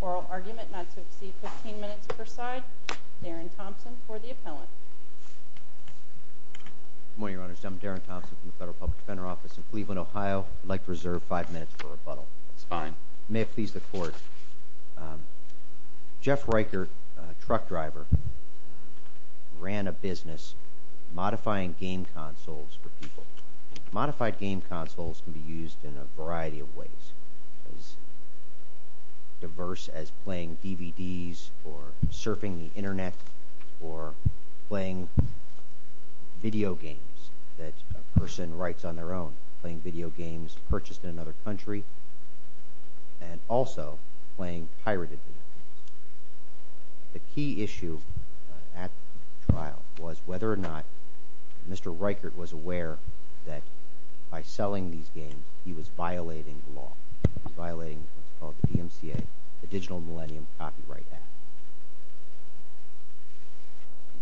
oral argument not to exceed 15 minutes per side, Darren Thompson for the appellant. Good morning, Your Honors. I'm Darren Thompson from the Federal Public Defender Office in Cleveland, Ohio. I'd like to reserve five minutes for rebuttal. May it please the Court. Jeff Reichert, a truck driver, ran a business modifying game consoles for people. Modified game consoles can be used in a variety of ways, as diverse as playing DVDs or surfing the Internet or playing video games that a person writes on their own, playing video games purchased in another country, and also playing pirated video games. The key issue at trial was whether or not Mr. Reichert was aware that by selling these games he was violating the law. He was violating what's called the DMCA, the Digital Millennium Copyright Act.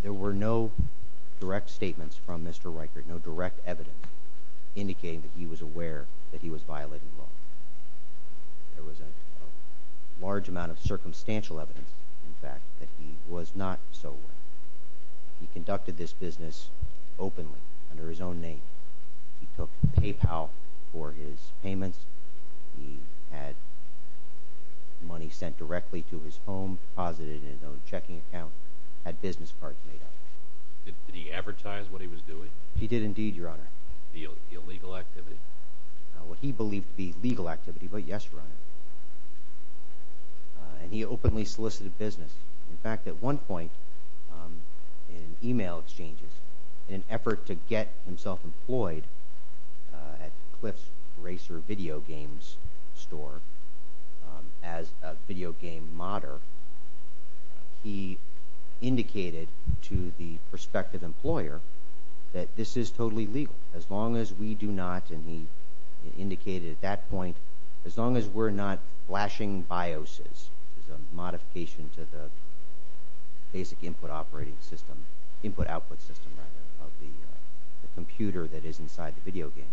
There were no direct statements from Mr. Reichert, no direct evidence indicating that he was aware that he was violating the law. There was no evidence, in fact, that he was not so aware. He conducted this business openly, under his own name. He took PayPal for his payments. He had money sent directly to his home, deposited in his own checking account, had business cards made up. Did he advertise what he was doing? He did indeed, Your Honor. The illegal activity? Well, he believed it to be legal activity, but yes, Your Honor. And he openly solicited business. In fact, at one point, in email exchanges, in an effort to get himself employed at Cliff's Racer Video Games store as a video game modder, he indicated to the company, he indicated at that point, as long as we're not flashing BIOSes, which is a modification to the basic input operating system, input-output system, rather, of the computer that is inside the video game,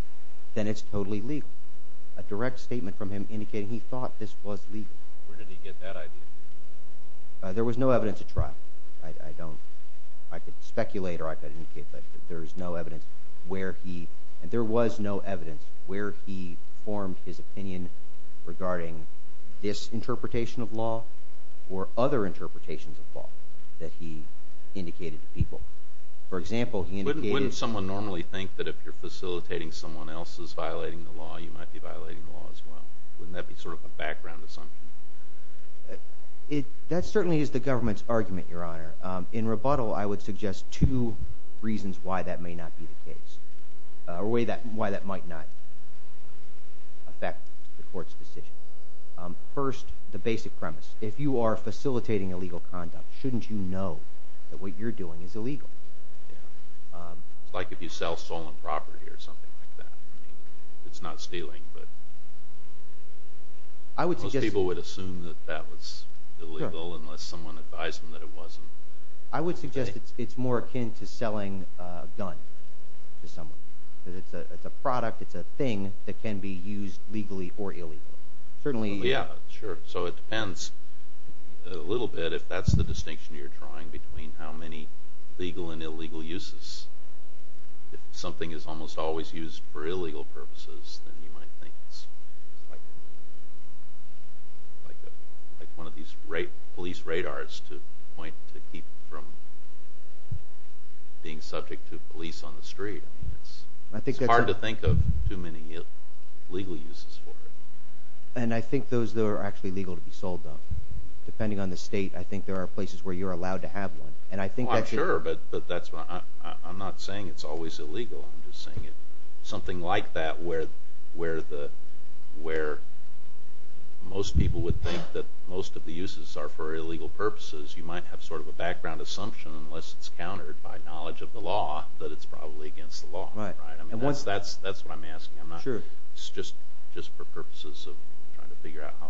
then it's totally legal. A direct statement from him indicating he thought this was legal. Where did he get that idea? There was no evidence at trial. I could speculate or I could indicate, but there is no evidence where he, and there was no evidence, where he formed his opinion regarding this interpretation of law or other interpretations of law that he indicated to people. For example, he indicated... Wouldn't someone normally think that if you're facilitating someone else's violating the law, you might be violating the law as well? Wouldn't that be sort of a background assumption? That certainly is the government's argument, Your Honor. In rebuttal, I would suggest two reasons why that may not be the case, or why that might not affect the court's decision. First, the basic premise. If you are facilitating illegal conduct, shouldn't you know that what you're doing is illegal? It's like if you sell stolen property or something like that. It's not stealing, but most people would assume that that was illegal unless someone advised them that it wasn't. I would suggest it's more akin to selling a gun to someone, because it's a product, it's a thing that can be used legally or illegally. It depends a little bit if that's the distinction you're drawing between how many legal and illegal uses. If something is almost always used for illegal purposes, then you might think it's like one of these police radars to keep from being subject to police on the street. It's hard to think of too many legal uses for it. And I think those are actually legal to be sold, though. Depending on the state, I think there are places where you're allowed to have one. Well, I'm sure, but I'm not saying it's always illegal. Something like that where most people would think that most of the uses are for illegal purposes, you might have sort of a background assumption, unless it's countered by knowledge of the law, that it's probably against the law. It's just for purposes of trying to figure out how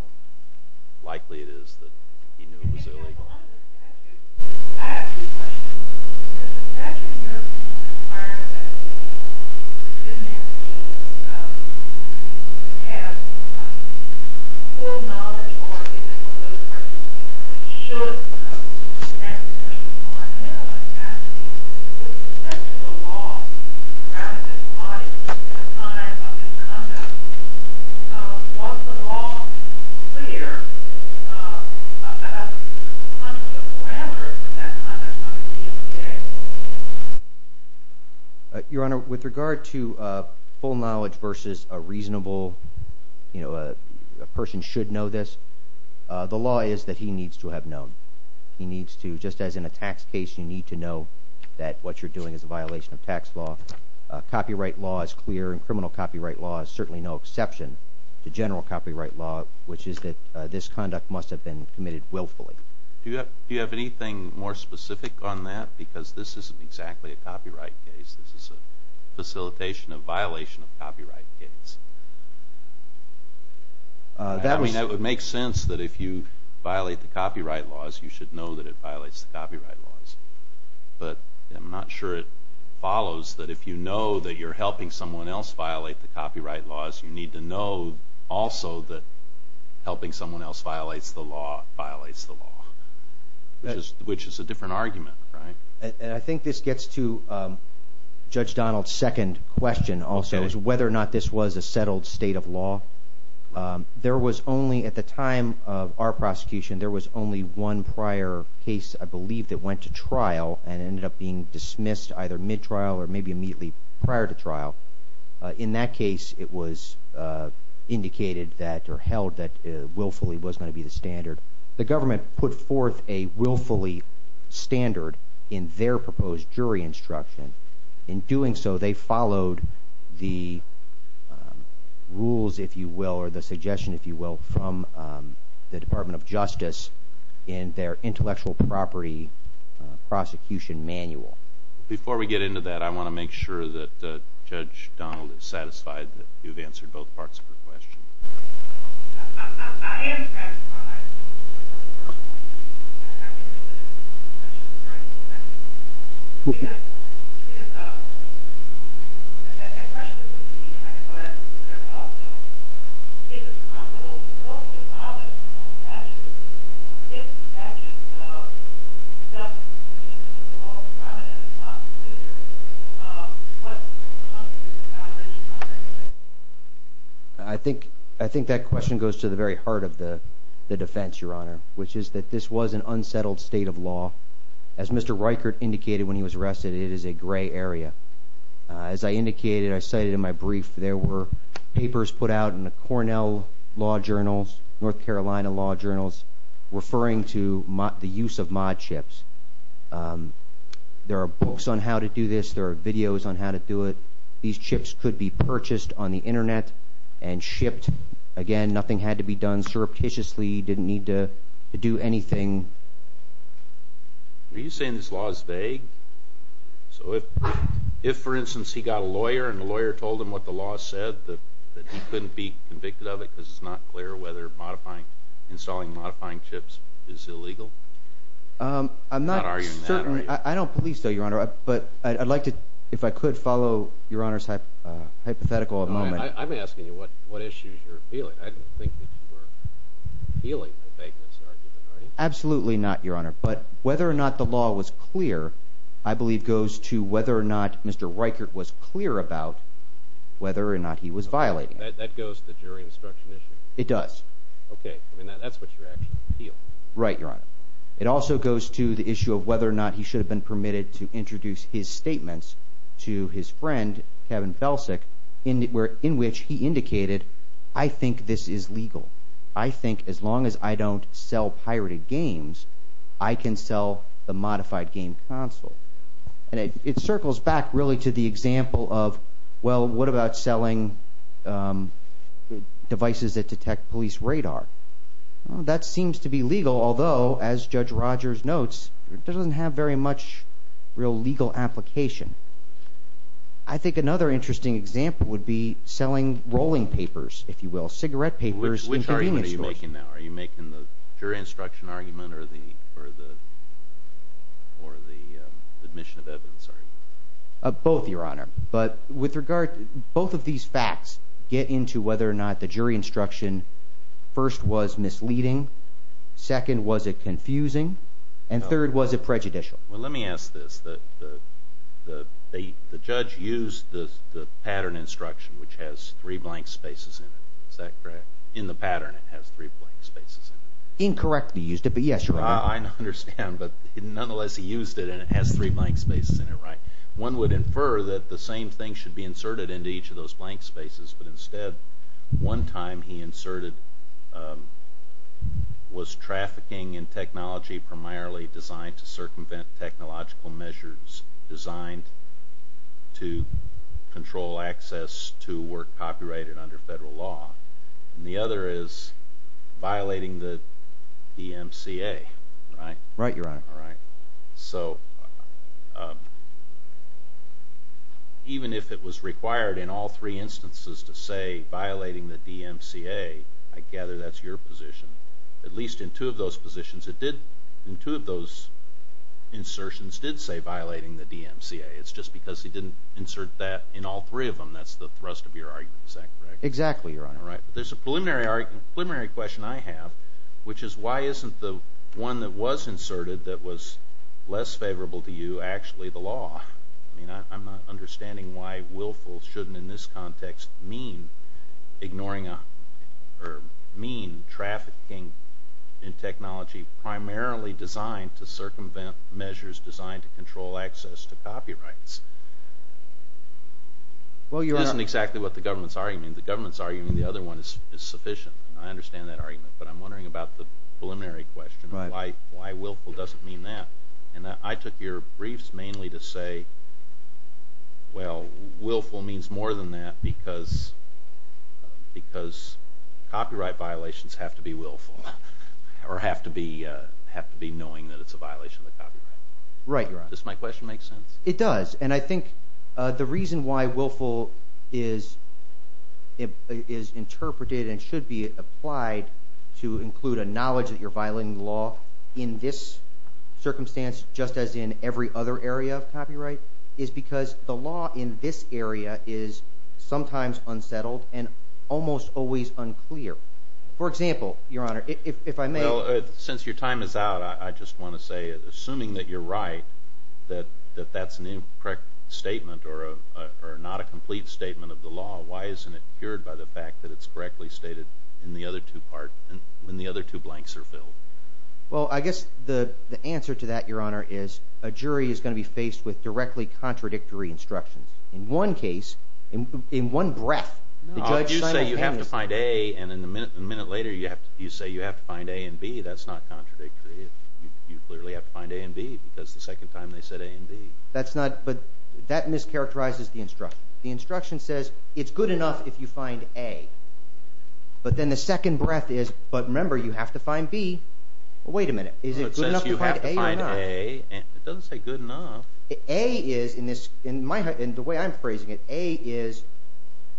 likely it is that he knew it was illegal. I have a few questions. Does the statute in Europe require that a student have full knowledge or evidence of those purposes? Should that be the case? With respect to the law, rather than the body, at the time of Mr. Nunda, was the law clear at the time of Mr. Nunda? Your Honor, with regard to full knowledge versus a reasonable, you know, a person should know this, the law is that he needs to have known. Just as in a tax case, you need to know that what you're doing is a violation of tax law. Copyright law is clear, and criminal copyright law is certainly no exception to general copyright law, which is that this conduct must have been committed willfully. Do you have anything more specific on that? Because this isn't exactly a copyright case. This is a facilitation of violation of copyright case. I mean, it would make sense that if you violate the copyright laws, you should know that it violates the copyright laws, but I'm not sure it follows that if you know that you're helping someone else violate the copyright laws, you need to know also that helping someone else violates the law violates the law, which is a different argument, right? And I think this gets to Judge Donald's second question also, is whether or not this was a settled state of law. At the time of our prosecution, there was only one prior case, I believe, that went to trial and ended up being dismissed either mid-trial or maybe immediately prior to trial. In that case, it was indicated that or held that willfully was going to be the standard. The government put forth a willfully standard in their proposed jury instruction. In doing so, they followed the rules, if you will, or the suggestion, if you will, from the Department of Justice in their intellectual property prosecution manual. Before we get into that, I want to make sure that Judge Donald is satisfied that you've answered both parts of her question. I think that question goes to the very heart of the defense, Your Honor, which is that this was an unsettled state of law. As Mr. Reichert indicated when he was arrested, it is a gray area. As I indicated, I cited in my brief, there were papers put out in the Cornell law journals, North Carolina law journals, referring to the use of mod chips. There are books on how to do this. There are videos on how to do it. These chips could be purchased on the Internet and shipped. Again, nothing had to be done surreptitiously. He didn't need to do anything. Are you saying this law is vague? If, for instance, he got a lawyer and the lawyer told him what the law said, that he couldn't be convicted of it because it's not clear whether installing and modifying chips is illegal? I'm not arguing that. I don't believe so, Your Honor. But I'd like to, if I could, follow Your Honor's hypothetical a moment. I'm asking you what issues you're appealing. I don't think that you are appealing a vagueness argument, are you? Absolutely not, Your Honor. But whether or not the law was clear, I believe, goes to whether or not Mr. Reichert was clear about whether or not he was violating it. That goes to the jury instruction issue? It does. Okay. I mean, that's what you're actually appealing. Right, Your Honor. It also goes to the issue of whether or not he should have been permitted to introduce his statements to his friend, Kevin Felsick, in which he indicated, I think this is legal. I think as long as I don't sell pirated games, I can sell the modified game console. And it circles back, really, to the example of, well, what about selling devices that detect police radar? That seems to be legal, although, as Judge Rogers notes, it doesn't have very much real legal application. I think another interesting example would be selling rolling papers, if you will, cigarette papers in convenience stores. Are you making the jury instruction argument or the admission of evidence argument? Both, Your Honor. But with regard, both of these facts get into whether or not the jury instruction first was misleading, second, was it confusing, and third, was it prejudicial? Well, let me ask this. The judge used the pattern instruction, which has three blank spaces in it. Is that correct? In the pattern, it has three blank spaces in it. Incorrectly used it, but yes, Your Honor. I understand, but nonetheless, he used it, and it has three blank spaces in it, right? One would infer that the same thing should be inserted into each of those blank spaces, but instead, one time he inserted was trafficking in technology primarily designed to circumvent technological measures designed to control access to work copyrighted under federal law. And the other is violating the DMCA, right? Right, Your Honor. All right. So even if it was required in all three instances to say violating the DMCA, I gather that's your position. At least in two of those positions, it did – in two of those insertions did say violating the DMCA. It's just because he didn't insert that in all three of them. That's the thrust of your argument. Is that correct? Exactly, Your Honor. Right. There's a preliminary question I have, which is why isn't the one that was inserted that was less favorable to you actually the law? I mean, I'm not understanding why willful shouldn't in this context mean ignoring or mean trafficking in technology primarily designed to circumvent measures designed to control access to copyrights. It isn't exactly what the government's arguing. The government's arguing the other one is sufficient, and I understand that argument. But I'm wondering about the preliminary question of why willful doesn't mean that. And I took your briefs mainly to say, well, willful means more than that because copyright violations have to be willful or have to be knowing that it's a violation of the copyright. Right, Your Honor. Does my question make sense? It does. And I think the reason why willful is interpreted and should be applied to include a knowledge that you're violating the law in this circumstance just as in every other area of copyright is because the law in this area is sometimes unsettled and almost always unclear. For example, Your Honor, if I may. Well, since your time is out, I just want to say, assuming that you're right, that that's an incorrect statement or not a complete statement of the law, why isn't it cured by the fact that it's correctly stated in the other two parts when the other two blanks are filled? Well, I guess the answer to that, Your Honor, is a jury is going to be faced with directly contradictory instructions. In one case, in one breath, the judge – No, you say you have to find A, and then a minute later you say you have to find A and B. That's not contradictory. You clearly have to find A and B because the second time they said A and B. That's not – but that mischaracterizes the instruction. The instruction says it's good enough if you find A, but then the second breath is, but remember, you have to find B. Well, wait a minute. Is it good enough to find A or not? Well, it says you have to find A, and it doesn't say good enough. A is, in the way I'm phrasing it, A is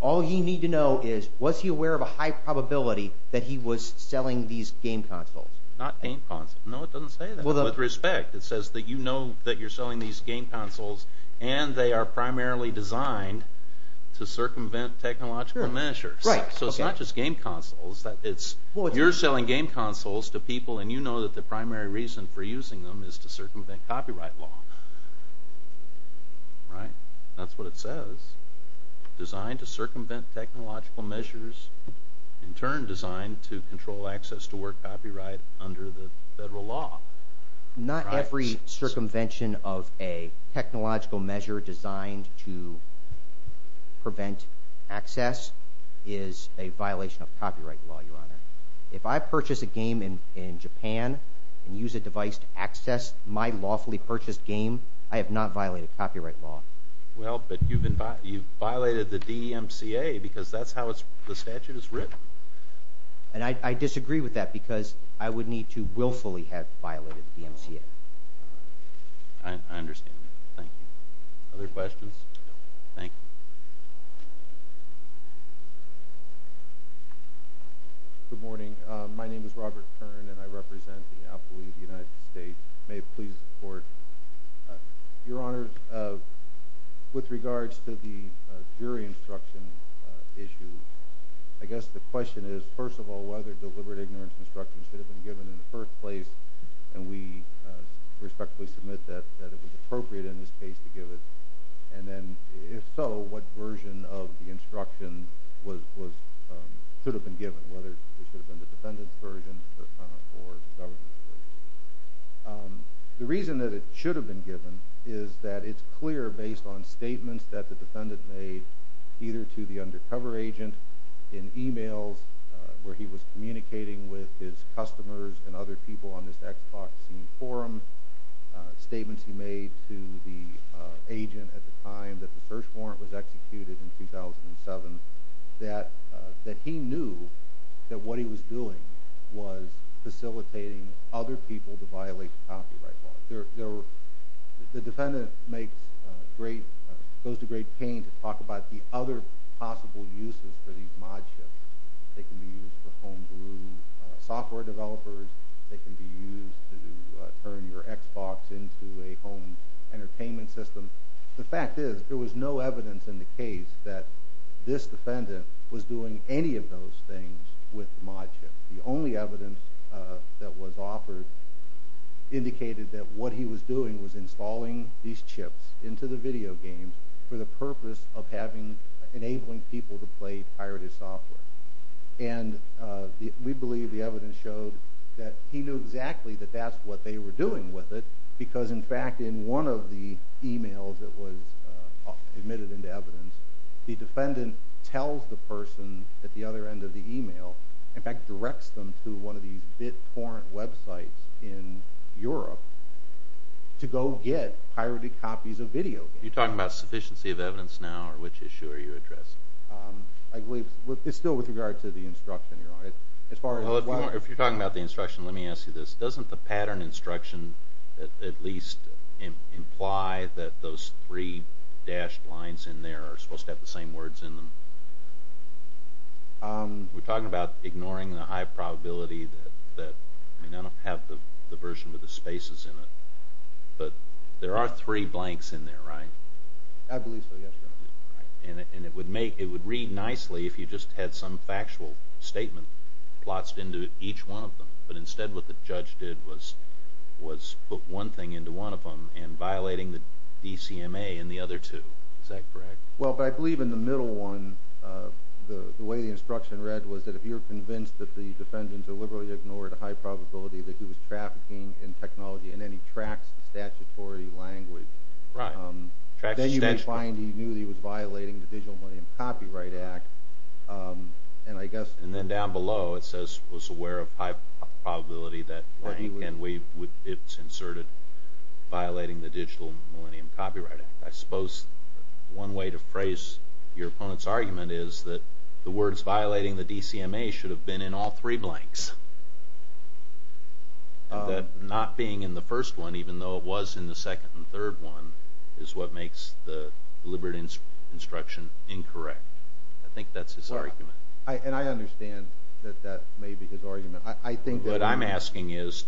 all you need to know is was he aware of a high probability that he was selling these game consoles? Not game consoles. No, it doesn't say that. With respect, it says that you know that you're selling these game consoles, and they are primarily designed to circumvent technological measures. So it's not just game consoles. You're selling game consoles to people, and you know that the primary reason for using them is to circumvent copyright law. Right? That's what it says. Designed to circumvent technological measures. In turn, designed to control access to work copyright under the federal law. Not every circumvention of a technological measure designed to prevent access is a violation of copyright law, Your Honor. If I purchase a game in Japan and use a device to access my lawfully purchased game, I have not violated copyright law. Well, but you've violated the DMCA, because that's how the statute is written. And I disagree with that, because I would need to willfully have violated the DMCA. I understand that. Thank you. Other questions? Thank you. Good morning. My name is Robert Kern, and I represent the Apple League of the United States. May it please the Court. Your Honor, with regards to the jury instruction issue, I guess the question is, first of all, whether deliberate ignorance instruction should have been given in the first place. And we respectfully submit that it was appropriate in this case to give it. And then, if so, what version of the instruction should have been given, whether it should have been the defendant's version or the government's version. The reason that it should have been given is that it's clear, based on statements that the defendant made, either to the undercover agent in emails, where he was communicating with his customers and other people on this Xbox forum, statements he made to the agent at the time that the search warrant was executed in 2007, that he knew that what he was doing was facilitating other people to violate the copyright law. The defendant goes to great pain to talk about the other possible uses for these modchips. They can be used for homebrew software developers. They can be used to turn your Xbox into a home entertainment system. The fact is, there was no evidence in the case that this defendant was doing any of those things with the modchip. The only evidence that was offered indicated that what he was doing was installing these chips into the video games for the purpose of enabling people to play pirated software. And we believe the evidence showed that he knew exactly that that's what they were doing with it because, in fact, in one of the emails that was admitted into evidence, the defendant tells the person at the other end of the email, in fact directs them to one of these BitTorrent websites in Europe, to go get pirated copies of video games. Are you talking about sufficiency of evidence now, or which issue are you addressing? I believe it's still with regard to the instruction, Your Honor. If you're talking about the instruction, let me ask you this. Doesn't the pattern instruction at least imply that those three dashed lines in there are supposed to have the same words in them? We're talking about ignoring the high probability that, I mean I don't have the version with the spaces in it, but there are three blanks in there, right? I believe so, yes, Your Honor. And it would read nicely if you just had some factual statement, plots into each one of them, but instead what the judge did was put one thing into one of them, and violating the DCMA in the other two. Is that correct? Well, I believe in the middle one, the way the instruction read was that if you're convinced that the defendant deliberately ignored a high probability that he was trafficking in technology, and then he tracks the statutory language. Then you find he knew he was violating the Digital Millennium Copyright Act, and I guess... And then down below it says, was aware of high probability that, and it's inserted, violating the Digital Millennium Copyright Act. I suppose one way to phrase your opponent's argument is that the words violating the DCMA should have been in all three blanks, and that not being in the first one, even though it was in the second and third one, is what makes the deliberate instruction incorrect. I think that's his argument. And I understand that that may be his argument. What I'm asking is,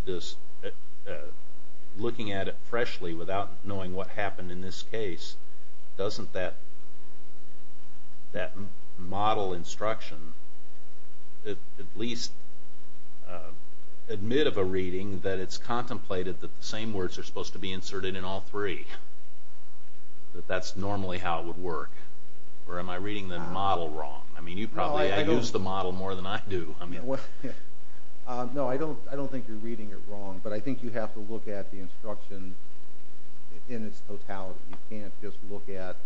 looking at it freshly without knowing what happened in this case, doesn't that model instruction at least admit of a reading that it's contemplated that the same words are supposed to be inserted in all three? That that's normally how it would work? Or am I reading the model wrong? I mean, you probably use the model more than I do. No, I don't think you're reading it wrong, but I think you have to look at the instruction in its totality. You can't just look at...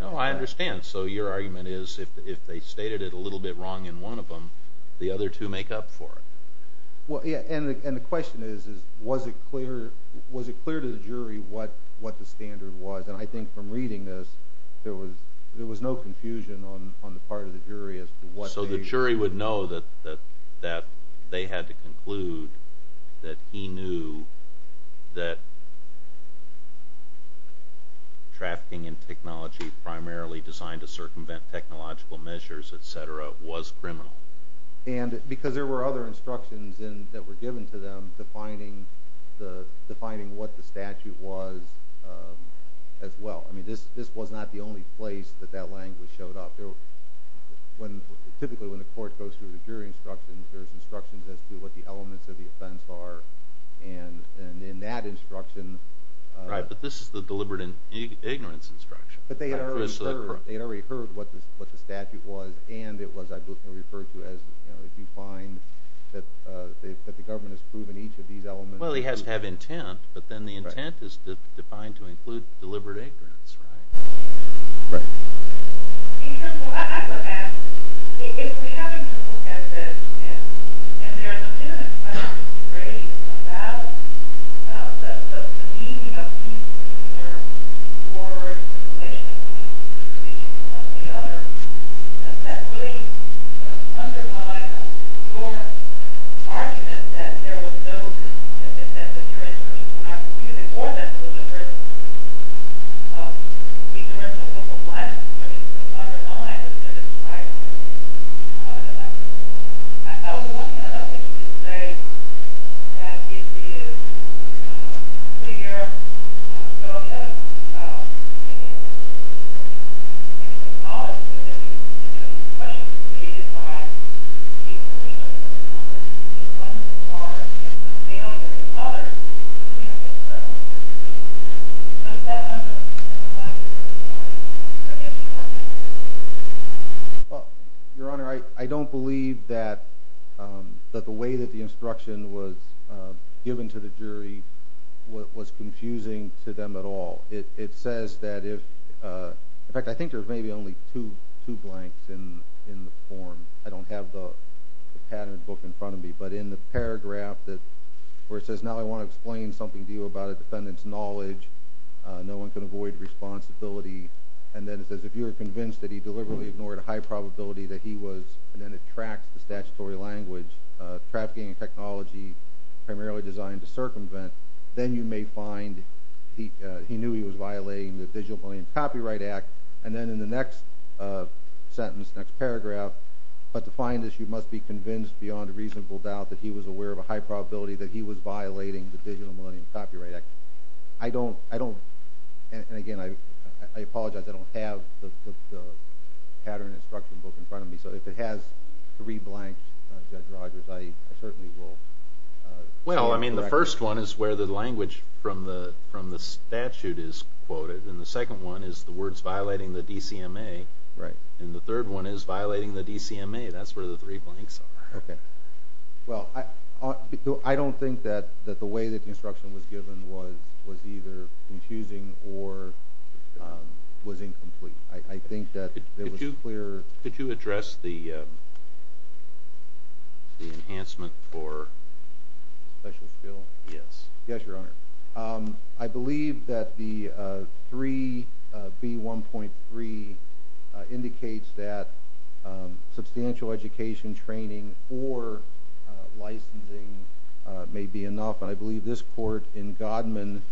No, I understand. So your argument is, if they stated it a little bit wrong in one of them, the other two make up for it. And the question is, was it clear to the jury what the standard was? And I think from reading this, there was no confusion on the part of the jury as to what they... So the jury would know that they had to conclude that he knew that trafficking in technology primarily designed to circumvent technological measures, etc., was criminal. And because there were other instructions that were given to them defining what the statute was as well. I mean, this was not the only place that that language showed up. Typically when the court goes through the jury instructions, there's instructions as to what the elements of the offense are, and in that instruction... Right, but this is the deliberate ignorance instruction. But they had already heard what the statute was, and it was referred to as, if you find that the government has proven each of these elements... Well, he has to have intent, but then the intent is defined to include deliberate ignorance, right? Right. In terms of... I would ask, if we're having to look at this, and there are some imminent questions raised about the meaning of these particular words in relation to the distribution of the other, doesn't that really undermine your argument that there was no... that the jury instructions were not deliberate? We can run for a couple of minutes, but I don't want to... I was wondering, I don't think you could say that it is clear... I think it's acknowledged that there were questions raised about the inclusion of the other. It wasn't as far as the failure of the other to communicate the truth. Does that undermine the fact that the jury instructions were deliberate? In fact, I think there's maybe only two blanks in the form. I don't have the pattern book in front of me, but in the paragraph where it says, now I want to explain something to you about a defendant's knowledge. No one can avoid responsibility. And then it says, if you were convinced that he deliberately ignored a high probability that he was... and then it tracks the statutory language, trafficking and technology primarily designed to circumvent, then you may find he knew he was violating the Digital Millennium Copyright Act. And then in the next sentence, next paragraph, but to find this you must be convinced beyond a reasonable doubt that he was aware of a high probability that he was violating the Digital Millennium Copyright Act. I don't... and again, I apologize, I don't have the pattern instruction book in front of me, so if it has three blanks, Judge Rogers, I certainly will... Well, I mean the first one is where the language from the statute is quoted, and the second one is the words violating the DCMA, and the third one is violating the DCMA, that's where the three blanks are. Well, I don't think that the way that the instruction was given was either confusing or was incomplete. I think that there was a clear... Yes. Yes, Your Honor. I believe that the 3B1.3 indicates that substantial education training or licensing may be enough, and I believe this court in Godman,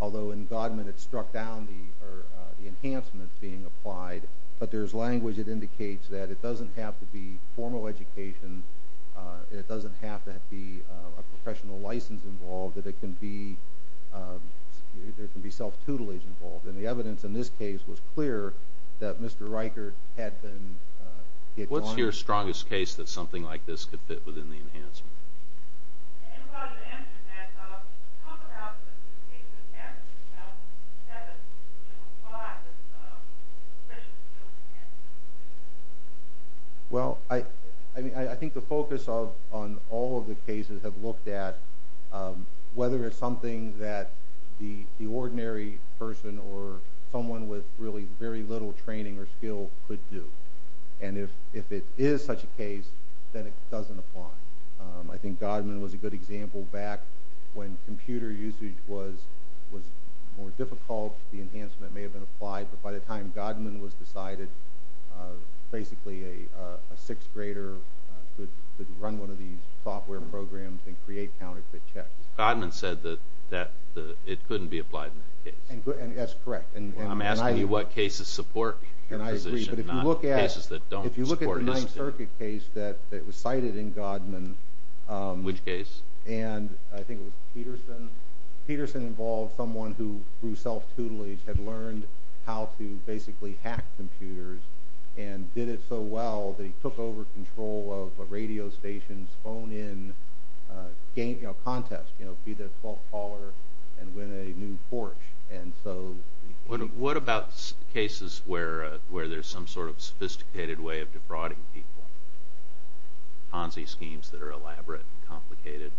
although in Godman it struck down the enhancements being applied, but there's language that indicates that it doesn't have to be formal education, and it doesn't have to be a professional license involved, that it can be... there can be self-tutelage involved, and the evidence in this case was clear that Mr. Riker had been... What's your strongest case that something like this could fit within the enhancement? And while you're answering that, talk about the case of the statute, you know, 7.205, this appreciation of the enhancements. Well, I think the focus on all of the cases have looked at whether it's something that the ordinary person or someone with really very little training or skill could do, and if it is such a case, then it doesn't apply. I think Godman was a good example back when computer usage was more difficult. The enhancement may have been applied, but by the time Godman was decided, basically a sixth grader could run one of these software programs and create counterfeit checks. Godman said that it couldn't be applied in that case. And that's correct. I'm asking you what cases support your position, not cases that don't support his position. If you look at the Ninth Circuit case that was cited in Godman... Which case? And I think it was Peterson. Peterson involved someone who, through self-tutelage, had learned how to basically hack computers and did it so well that he took over control of a radio station's phone-in contest, you know, be the 12th caller and win a new Porsche. What about cases where there's some sort of sophisticated way of defrauding people, Ponzi schemes that are elaborate and complicated?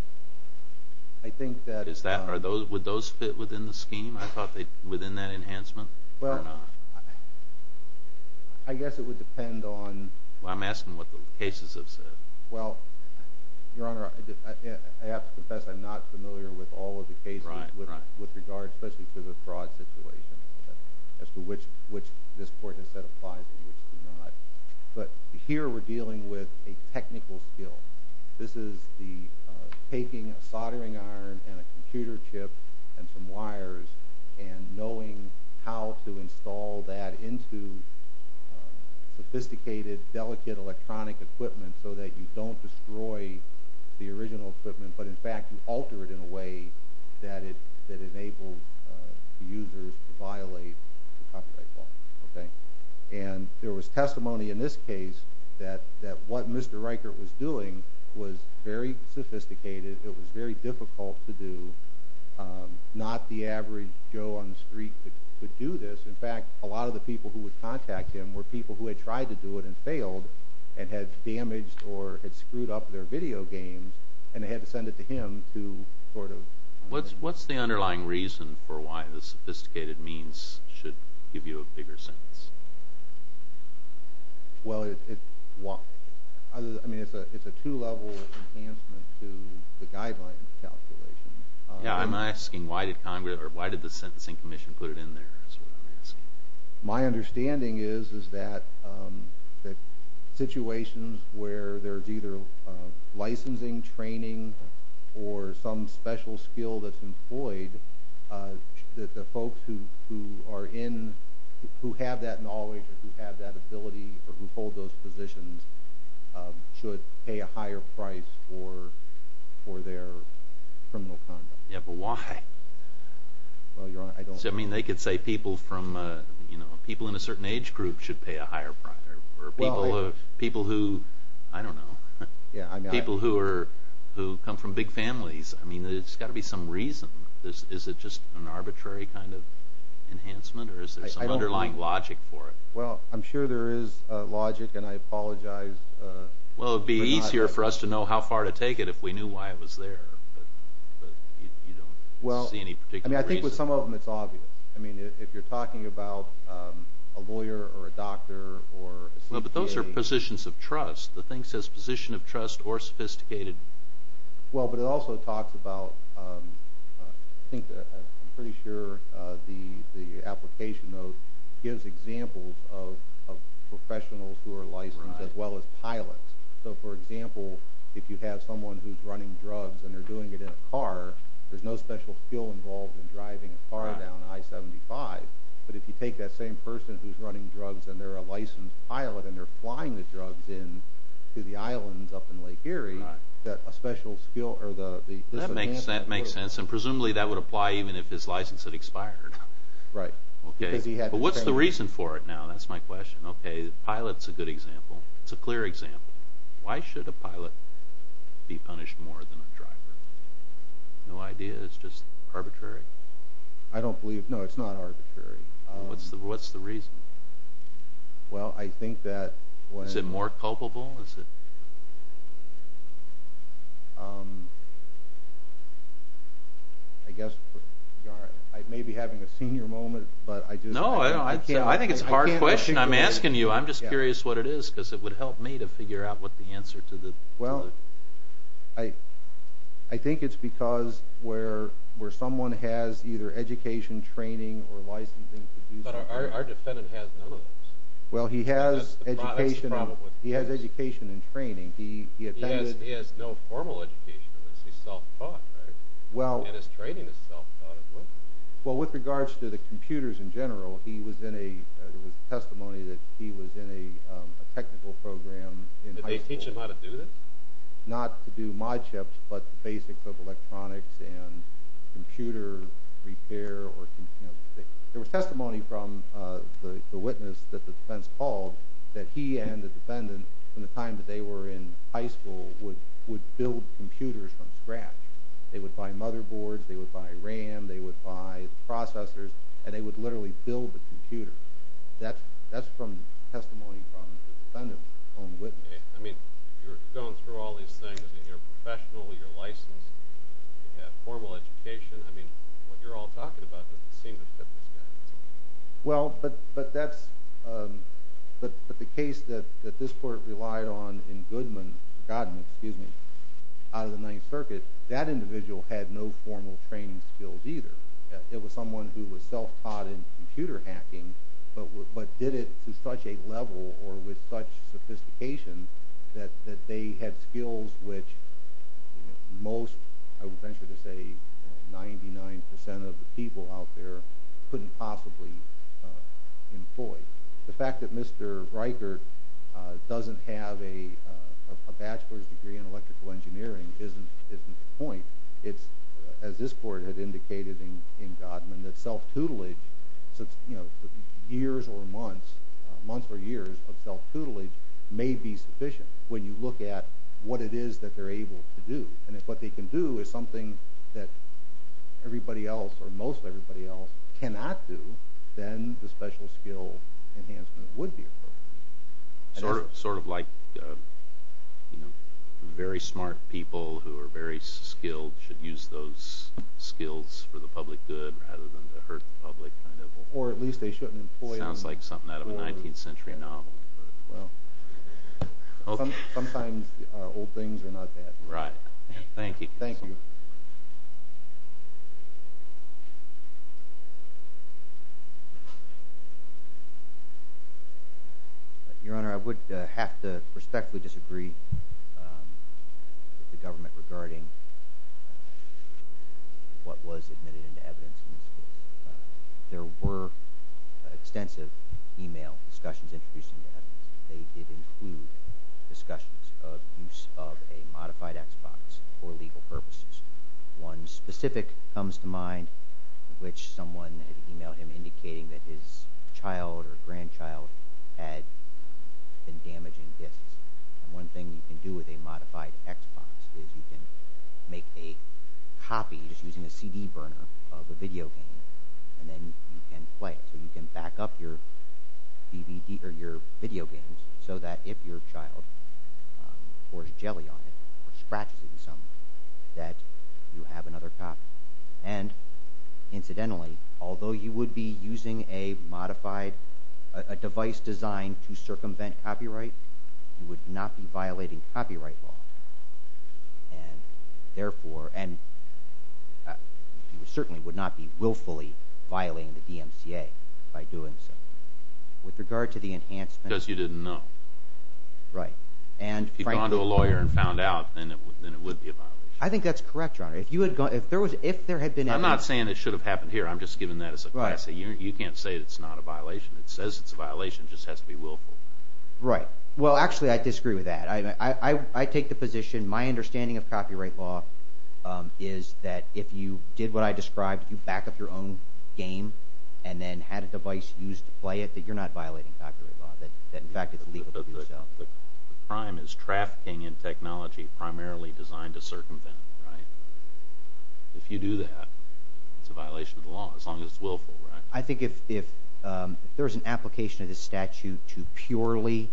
I think that... Would those fit within the scheme, I thought, within that enhancement or not? Well, I guess it would depend on... I'm asking what the cases have said. Well, Your Honor, I have to confess I'm not familiar with all of the cases with regard, especially to the fraud situation, as to which this court has said applies and which does not. But here we're dealing with a technical skill. This is the taking a soldering iron and a computer chip and some wires and knowing how to install that into sophisticated, delicate electronic equipment so that you don't destroy the original equipment, but in fact you alter it in a way that enables users to violate the copyright law. And there was testimony in this case that what Mr. Riker was doing was very sophisticated. It was very difficult to do. Not the average Joe on the street could do this. In fact, a lot of the people who would contact him were people who had tried to do it and failed and had damaged or had screwed up their video games, and they had to send it to him to sort of... What's the underlying reason for why the sophisticated means should give you a bigger sentence? Well, it's a two-level enhancement to the guideline calculation. Yeah, I'm asking why did the Sentencing Commission put it in there is what I'm asking. My understanding is that situations where there's either licensing, training, or some special skill that's employed, that the folks who have that knowledge or who have that ability or who hold those positions should pay a higher price for their criminal conduct. Yeah, but why? Well, Your Honor, I don't know. I mean, they could say people in a certain age group should pay a higher price. Or people who, I don't know, people who come from big families. I mean, there's got to be some reason. Is it just an arbitrary kind of enhancement, or is there some underlying logic for it? Well, I'm sure there is logic, and I apologize. Well, it would be easier for us to know how far to take it if we knew why it was there, but you don't see any particular reason. I mean, I think with some of them it's obvious. I mean, if you're talking about a lawyer or a doctor or a sleep TA. But those are positions of trust. The thing says position of trust or sophisticated. Well, but it also talks about, I think, I'm pretty sure the application, though, gives examples of professionals who are licensed as well as pilots. So, for example, if you have someone who's running drugs and they're doing it in a car, there's no special skill involved in driving a car down I-75. But if you take that same person who's running drugs and they're a licensed pilot and they're flying the drugs in to the islands up in Lake Erie, that a special skill or the disadvantage... That makes sense. And presumably that would apply even if his license had expired. Right. But what's the reason for it now? That's my question. Okay, the pilot's a good example. It's a clear example. Why should a pilot be punished more than a driver? No idea. It's just arbitrary. I don't believe. No, it's not arbitrary. What's the reason? Well, I think that... Is it more culpable? I guess I may be having a senior moment, but I just... No, I think it's a hard question I'm asking you. I'm just curious what it is because it would help me to figure out what the answer to the... Well, I think it's because where someone has either education, training, or licensing... But our defendant has none of those. Well, he has education and training. He has no formal education. He's self-taught, right? And his training is self-taught as well. Well, with regards to the computers in general, there was testimony that he was in a technical program in high school. Did they teach him how to do this? Not to do mod chips, but the basics of electronics and computer repair. There was testimony from the witness that the defense called that he and the defendant, from the time that they were in high school, would build computers from scratch. They would buy motherboards. They would buy RAM. They would buy processors. And they would literally build the computer. That's from testimony from the defendant's own witness. I mean, you're going through all these things, and you're a professional. You're licensed. You have formal education. I mean, what you're all talking about doesn't seem to fit the standards. Well, but that's... But the case that this court relied on in Goodman... Godman, excuse me, out of the Ninth Circuit, that individual had no formal training skills either. It was someone who was self-taught in computer hacking, but did it to such a level or with such sophistication that they had skills which most, I would venture to say, 99% of the people out there couldn't possibly employ. The fact that Mr. Riker doesn't have a bachelor's degree in electrical engineering isn't the point. It's, as this court had indicated in Godman, that self-tutelage, you know, years or months, months or years of self-tutelage may be sufficient when you look at what it is that they're able to do. And if what they can do is something that everybody else or most everybody else cannot do, then the special skill enhancement would be appropriate. Sort of like very smart people who are very skilled should use those skills for the public good rather than to hurt the public. Or at least they shouldn't employ them. Sounds like something out of a 19th century novel. Sometimes old things are not bad. Right. Thank you. Thank you. Your Honor, I would have to respectfully disagree with the government regarding what was admitted into evidence in this case. There were extensive e-mail discussions introduced into evidence. They did include discussions of use of a modified Xbox for legal purposes. One specific comes to mind in which someone had e-mailed him indicating that his child or grandchild had been damaging discs. And one thing you can do with a modified Xbox is you can make a copy just using a CD burner of a video game and then you can play it. So you can back up your DVD or your video games so that if your child pours jelly on it or scratches it in some way that you have another copy. And incidentally, although you would be using a modified – a device designed to circumvent copyright, you would not be violating copyright law. And therefore – and you certainly would not be willfully violating the DMCA by doing so. With regard to the enhancement – Because you didn't know. Right. And frankly – If you'd gone to a lawyer and found out, then it would be a violation. I think that's correct, Your Honor. If there had been any – I'm not saying it should have happened here. I'm just giving that as a – You can't say it's not a violation. It says it's a violation. It just has to be willful. Right. Well, actually, I disagree with that. I take the position – my understanding of copyright law is that if you did what I described, you back up your own game and then had a device used to play it, that you're not violating copyright law, that in fact it's legal to do so. The crime is trafficking in technology primarily designed to circumvent. If you do that, it's a violation of the law as long as it's willful. I think if there's an application of this statute to purely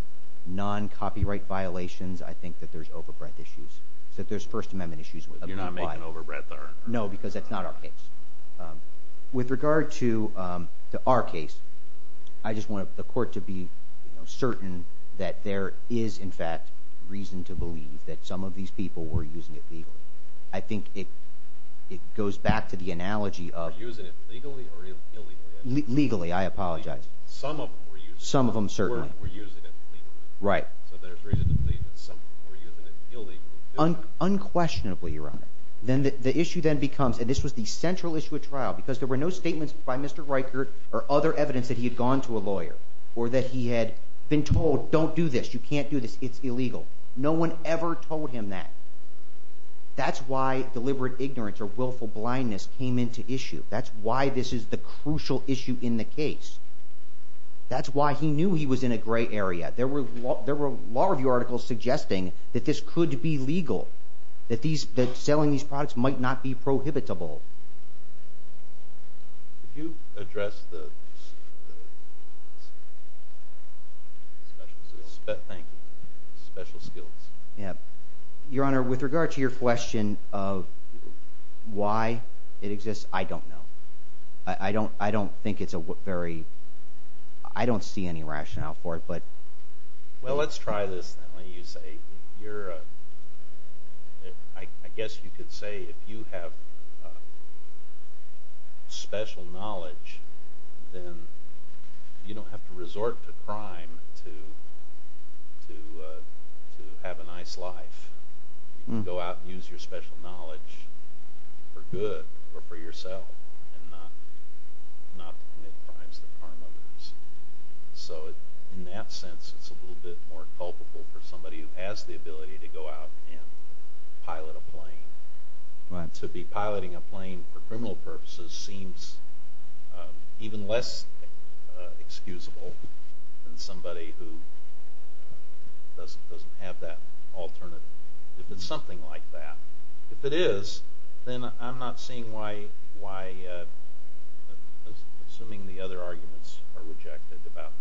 non-copyright violations, I think that there's overbreadth issues, that there's First Amendment issues. You're not making overbreadth, are you? No, because that's not our case. With regard to our case, I just want the court to be certain that there is, in fact, reason to believe that some of these people were using it legally. I think it goes back to the analogy of – Were using it legally or illegally? Legally. I apologize. Some of them were using it. Some of them, certainly. Were using it legally. Right. So there's reason to believe that some people were using it illegally. Unquestionably, Your Honor. Then the issue then becomes – and this was the central issue of trial because there were no statements by Mr. Reichert or other evidence that he had gone to a lawyer or that he had been told, Don't do this. You can't do this. It's illegal. No one ever told him that. That's why deliberate ignorance or willful blindness came into issue. That's why this is the crucial issue in the case. That's why he knew he was in a gray area. There were law review articles suggesting that this could be legal, that selling these products might not be prohibitable. Could you address the special skills? Thank you. Special skills. Your Honor, with regard to your question of why it exists, I don't know. I don't think it's a very – I don't see any rationale for it, but – Well, let's try this then. I guess you could say if you have special knowledge, then you don't have to resort to crime to have a nice life. You can go out and use your special knowledge for good or for yourself and not commit crimes that harm others. So in that sense, it's a little bit more culpable for somebody who has the ability to go out and pilot a plane. To be piloting a plane for criminal purposes seems even less excusable than somebody who doesn't have that alternative. If it's something like that, if it is, then I'm not seeing why – assuming the other arguments are rejected about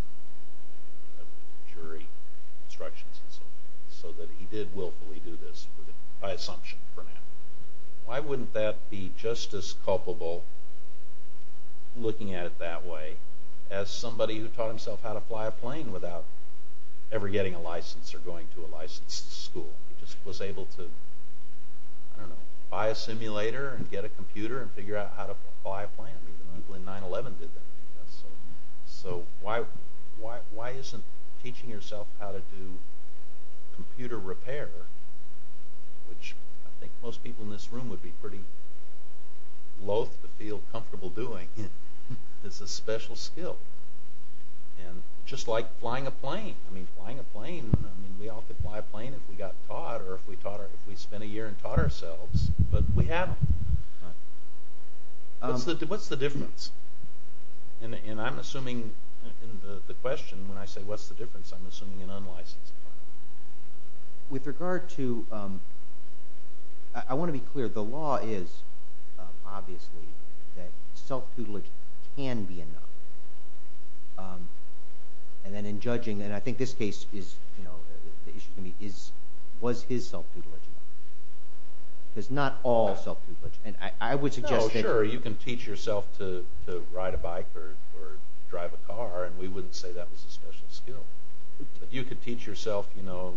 jury instructions so that he did willfully do this by assumption for him. Why wouldn't that be just as culpable, looking at it that way, as somebody who taught himself how to fly a plane without ever getting a license or going to a licensed school? He just was able to, I don't know, buy a simulator and get a computer and figure out how to fly a plane. Even Uncle in 9-11 did that. So why isn't teaching yourself how to do computer repair, which I think most people in this room would be pretty loathe to feel comfortable doing, is a special skill, just like flying a plane. We all could fly a plane if we got taught or if we spent a year and taught ourselves, but we haven't. What's the difference? And I'm assuming in the question, when I say what's the difference, I'm assuming an unlicensed pilot. With regard to – I want to be clear. The law is, obviously, that self-tutelage can be enough. And then in judging, and I think this case, the issue to me, was his self-tutelage enough? Because not all self-tutelage. No, sure, you can teach yourself to ride a bike or drive a car, and we wouldn't say that was a special skill. But you could teach yourself the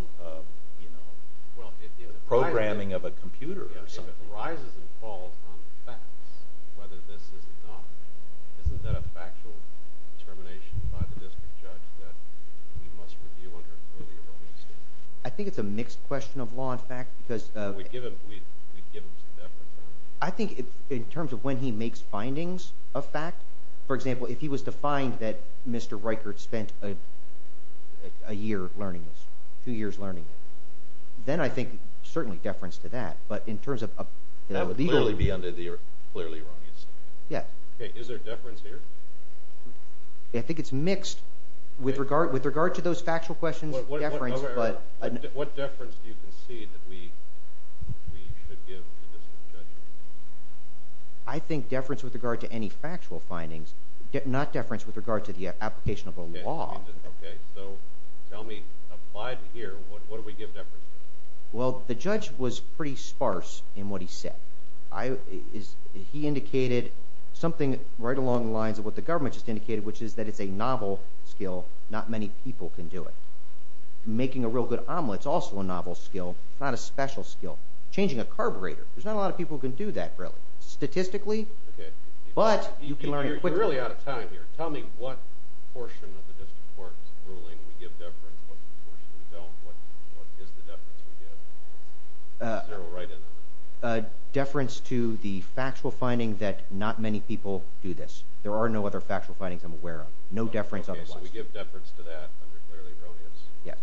programming of a computer or something. If it arises and falls on facts, whether this is or not, isn't that a factual determination by the district judge that we must review under an earlier release date? I think it's a mixed question of law and fact because – We'd give him some deference. I think in terms of when he makes findings of fact – for example, if he was to find that Mr. Reichert spent a year learning this, two years learning it, then I think certainly deference to that. But in terms of – That would clearly be under the clearly wrong instance. Yes. Okay, is there deference here? I think it's mixed with regard to those factual questions of deference, but – What deference do you concede that we should give to the district judge? I think deference with regard to any factual findings, not deference with regard to the application of a law. Okay, so tell me, applied here, what do we give deference to? Well, the judge was pretty sparse in what he said. He indicated something right along the lines of what the government just indicated, which is that it's a novel skill. Not many people can do it. Making a real good omelet is also a novel skill. It's not a special skill. Changing a carburetor, there's not a lot of people who can do that, really, statistically. But you can learn it quickly. You're really out of time here. Tell me what portion of the district court's ruling we give deference, and what portion we don't. What is the deference we give? Is there a right or a wrong? Deference to the factual finding that not many people do this. There are no other factual findings I'm aware of. No deference otherwise. Okay, so we give deference to that under clearly erroneous. Yes.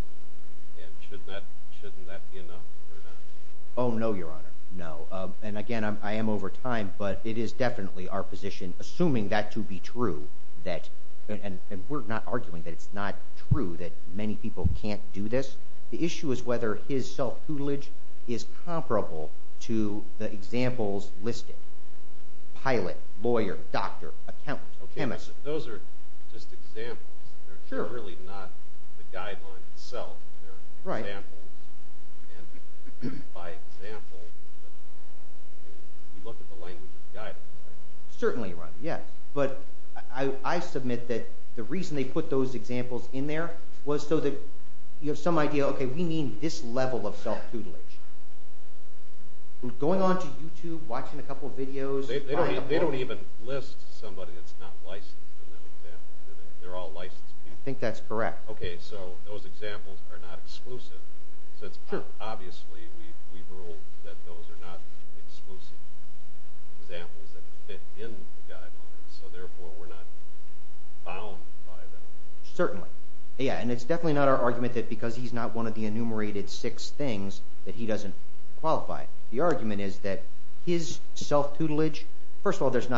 And shouldn't that be enough or not? Oh, no, Your Honor, no. And again, I am over time, but it is definitely our position, assuming that to be true, that – that people can't do this. The issue is whether his self-tutelage is comparable to the examples listed. Pilot, lawyer, doctor, accountant, chemist. Okay, but those are just examples. They're really not the guidelines itself. They're examples. And by example, you look at the language of the guidelines, right? Certainly, Your Honor, yes. But I submit that the reason they put those examples in there was so that you have some idea. Okay, we mean this level of self-tutelage. Going on to YouTube, watching a couple videos. They don't even list somebody that's not licensed in those examples. They're all licensed people. I think that's correct. Okay, so those examples are not exclusive. Obviously, we've ruled that those are not exclusive examples that fit in the guidelines. So therefore, we're not bound by them. Certainly. Yeah, and it's definitely not our argument that because he's not one of the enumerated six things that he doesn't qualify. The argument is that his self-tutelage – first of all, there's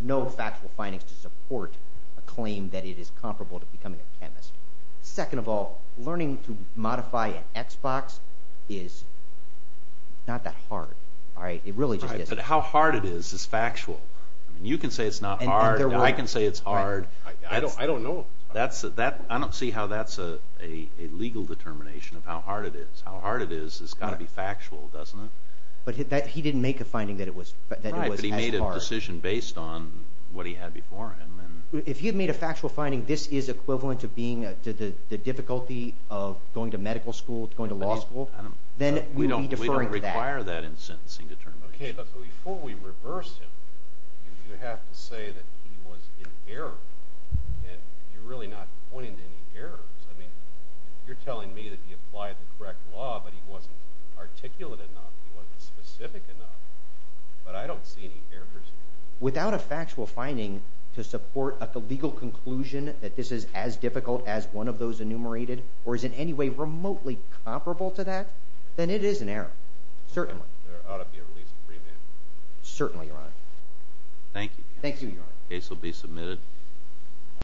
no factual findings to support a claim that it is comparable to becoming a chemist. Second of all, learning to modify an Xbox is not that hard, right? It really just isn't. But how hard it is is factual. You can say it's not hard. I can say it's hard. I don't know. I don't see how that's a legal determination of how hard it is. How hard it is has got to be factual, doesn't it? But he didn't make a finding that it was as hard. Right, but he made a decision based on what he had before him. If he had made a factual finding this is equivalent to the difficulty of going to medical school, going to law school, then we would be deferring to that. We don't require that in sentencing determination. Okay, but before we reverse him, you have to say that he was in error, and you're really not pointing to any errors. I mean you're telling me that he applied the correct law, but he wasn't articulate enough. He wasn't specific enough, but I don't see any errors. Without a factual finding to support a legal conclusion that this is as difficult as one of those enumerated, or is in any way remotely comparable to that, then it is an error. Certainly. There ought to be a release and remand. Certainly, Your Honor. Thank you. The case will be submitted.